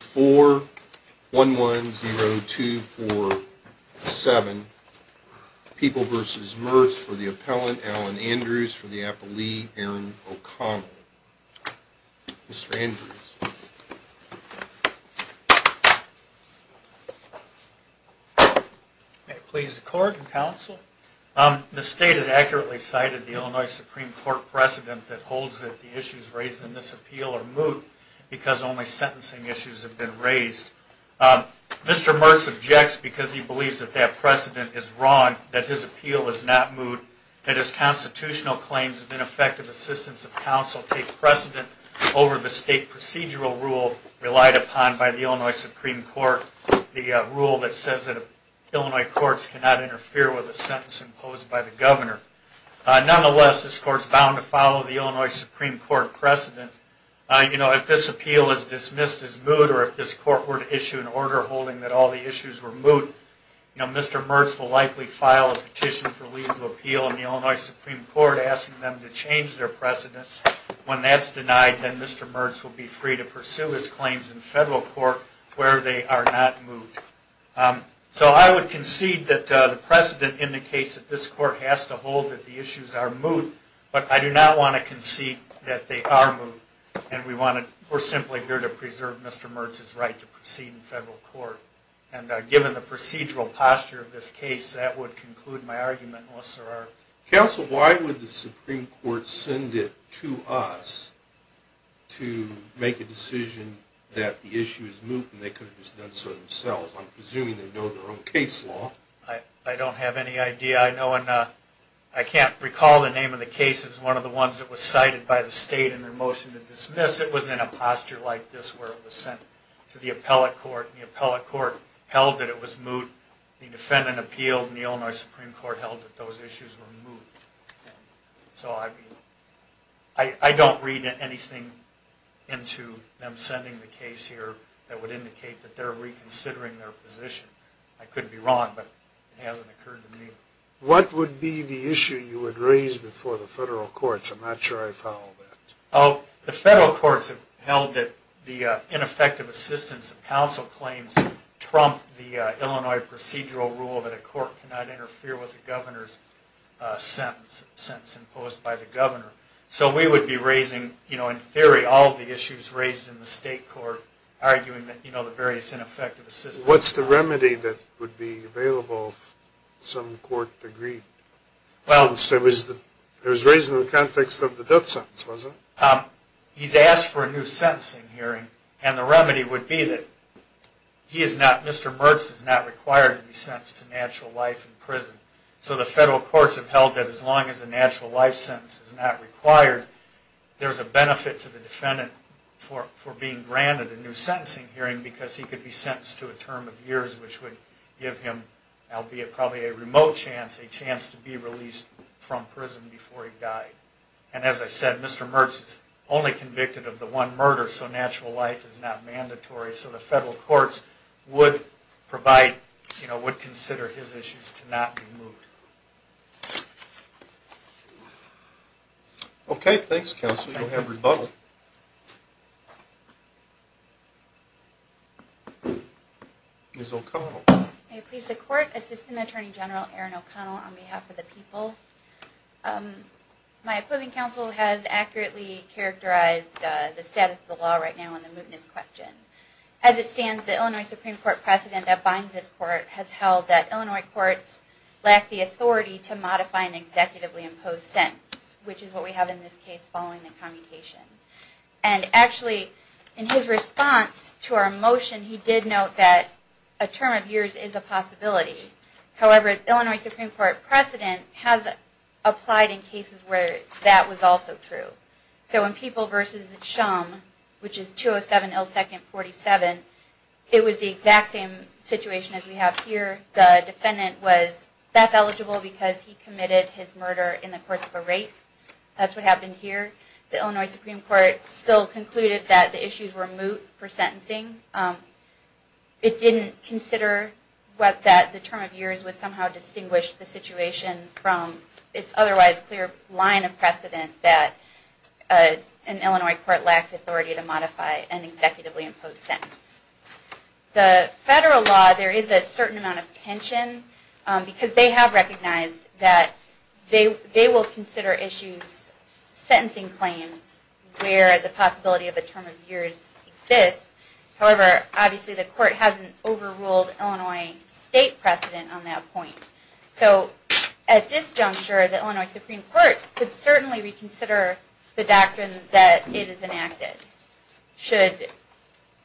4-110-247 People v. Mertz for the appellant, Alan Andrews for the appellee, Aaron O'Connell. Mr. Andrews. May it please the court and counsel. The state has accurately cited the Illinois Supreme Court precedent that holds that the issues raised in this appeal are moot because only sentencing issues have been raised. Mr. Mertz objects because he believes that that precedent is wrong, that his appeal is not moot, that his constitutional claims of ineffective assistance of counsel take precedent over the state procedural rule relied upon by the Illinois Supreme Court, the rule that says that Illinois courts cannot interfere with a sentence imposed by the governor. Nonetheless, this court is bound to follow the Illinois Supreme Court precedent. If this appeal is dismissed as moot or if this court were to issue an order holding that all the issues were moot, Mr. Mertz will likely file a petition for legal appeal in the Illinois Supreme Court asking them to change their precedent. When that's denied, then Mr. Mertz will be free to pursue his claims in federal court where they are not moot. So I would concede that the precedent indicates that this court has to hold that the issues are moot, but I do not want to concede that they are moot and we're simply here to preserve Mr. Mertz's right to proceed in federal court. And given the procedural posture of this case, that would conclude my argument. Counsel, why would the Supreme Court send it to us to make a decision that the issue is moot and they could have just done so themselves? I'm presuming they know their own case law. I don't have any idea. I can't recall the name of the case. It was one of the ones that was cited by the state in their motion to dismiss. It was in a posture like this where it was sent to the appellate court and the appellate court held that it was moot. The defendant appealed and the Illinois Supreme Court held that those issues were moot. So I don't read anything into them sending the case here that would indicate that they're reconsidering their position. I couldn't be wrong, but it hasn't occurred to me. What would be the issue you would raise before the federal courts? I'm not sure I follow that. The federal courts have held that the ineffective assistance of counsel claims trump the Illinois procedural rule that a court cannot interfere with the governor's sentence imposed by the governor. So we would be raising, in theory, all of the issues raised in the state court, arguing the various ineffective assistance. What's the remedy that would be available if some court agreed? It was raised in the context of the death sentence, wasn't it? He's asked for a new sentencing hearing, and the remedy would be that he is not, Mr. Mertz is not required to be sentenced to natural life in prison. So the federal courts have held that as long as a natural life sentence is not required, there's a benefit to the defendant for being granted a new sentencing hearing because he could be sentenced to a term of years, which would give him, albeit probably a remote chance, a chance to be released from prison before he died. And as I said, Mr. Mertz is only convicted of the one murder, so natural life is not mandatory. So the federal courts would provide, would consider his issues to not be moved. Okay, thanks, counsel. You'll have rebuttal. Ms. O'Connell. May it please the court, Assistant Attorney General Erin O'Connell on behalf of the people. My opposing counsel has accurately characterized the status of the law right now in the mootness question. As it stands, the Illinois Supreme Court precedent that binds this court has held that Illinois courts lack the authority to modify an executively imposed sentence, which is what we have in this case following the commutation. And actually, in his response to our motion, he did note that a term of years is a possibility. However, Illinois Supreme Court precedent has applied in cases where that was also true. So in People v. Shum, which is 207 L. 2nd 47, it was the exact same situation as we have here. The defendant was, that's eligible because he committed his murder in the course of a rape. That's what happened here. The Illinois Supreme Court still concluded that the issues were moot for sentencing. It didn't consider that the term of years would somehow distinguish the situation from its otherwise clear line of precedent that an Illinois court lacks authority to modify an executively imposed sentence. The federal law, there is a certain amount of tension because they have recognized that they will consider issues, sentencing claims, where the possibility of a term of years exists. However, obviously the court hasn't overruled Illinois state precedent on that point. So at this juncture, the Illinois Supreme Court could certainly reconsider the doctrine that it has enacted should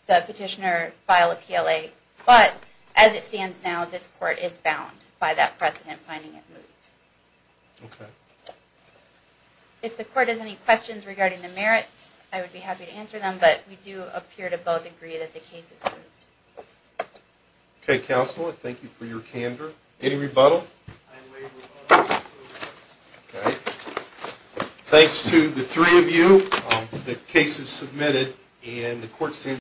the petitioner file a PLA. But as it stands now, this court is bound by that precedent finding it moot. Okay. If the court has any questions regarding the merits, I would be happy to answer them, but we do appear to both agree that the case is moot. Okay, Counselor, thank you for your candor. Any rebuttal? I waive rebuttal. Okay. Thanks to the three of you. The case is submitted and the court stands adjourned.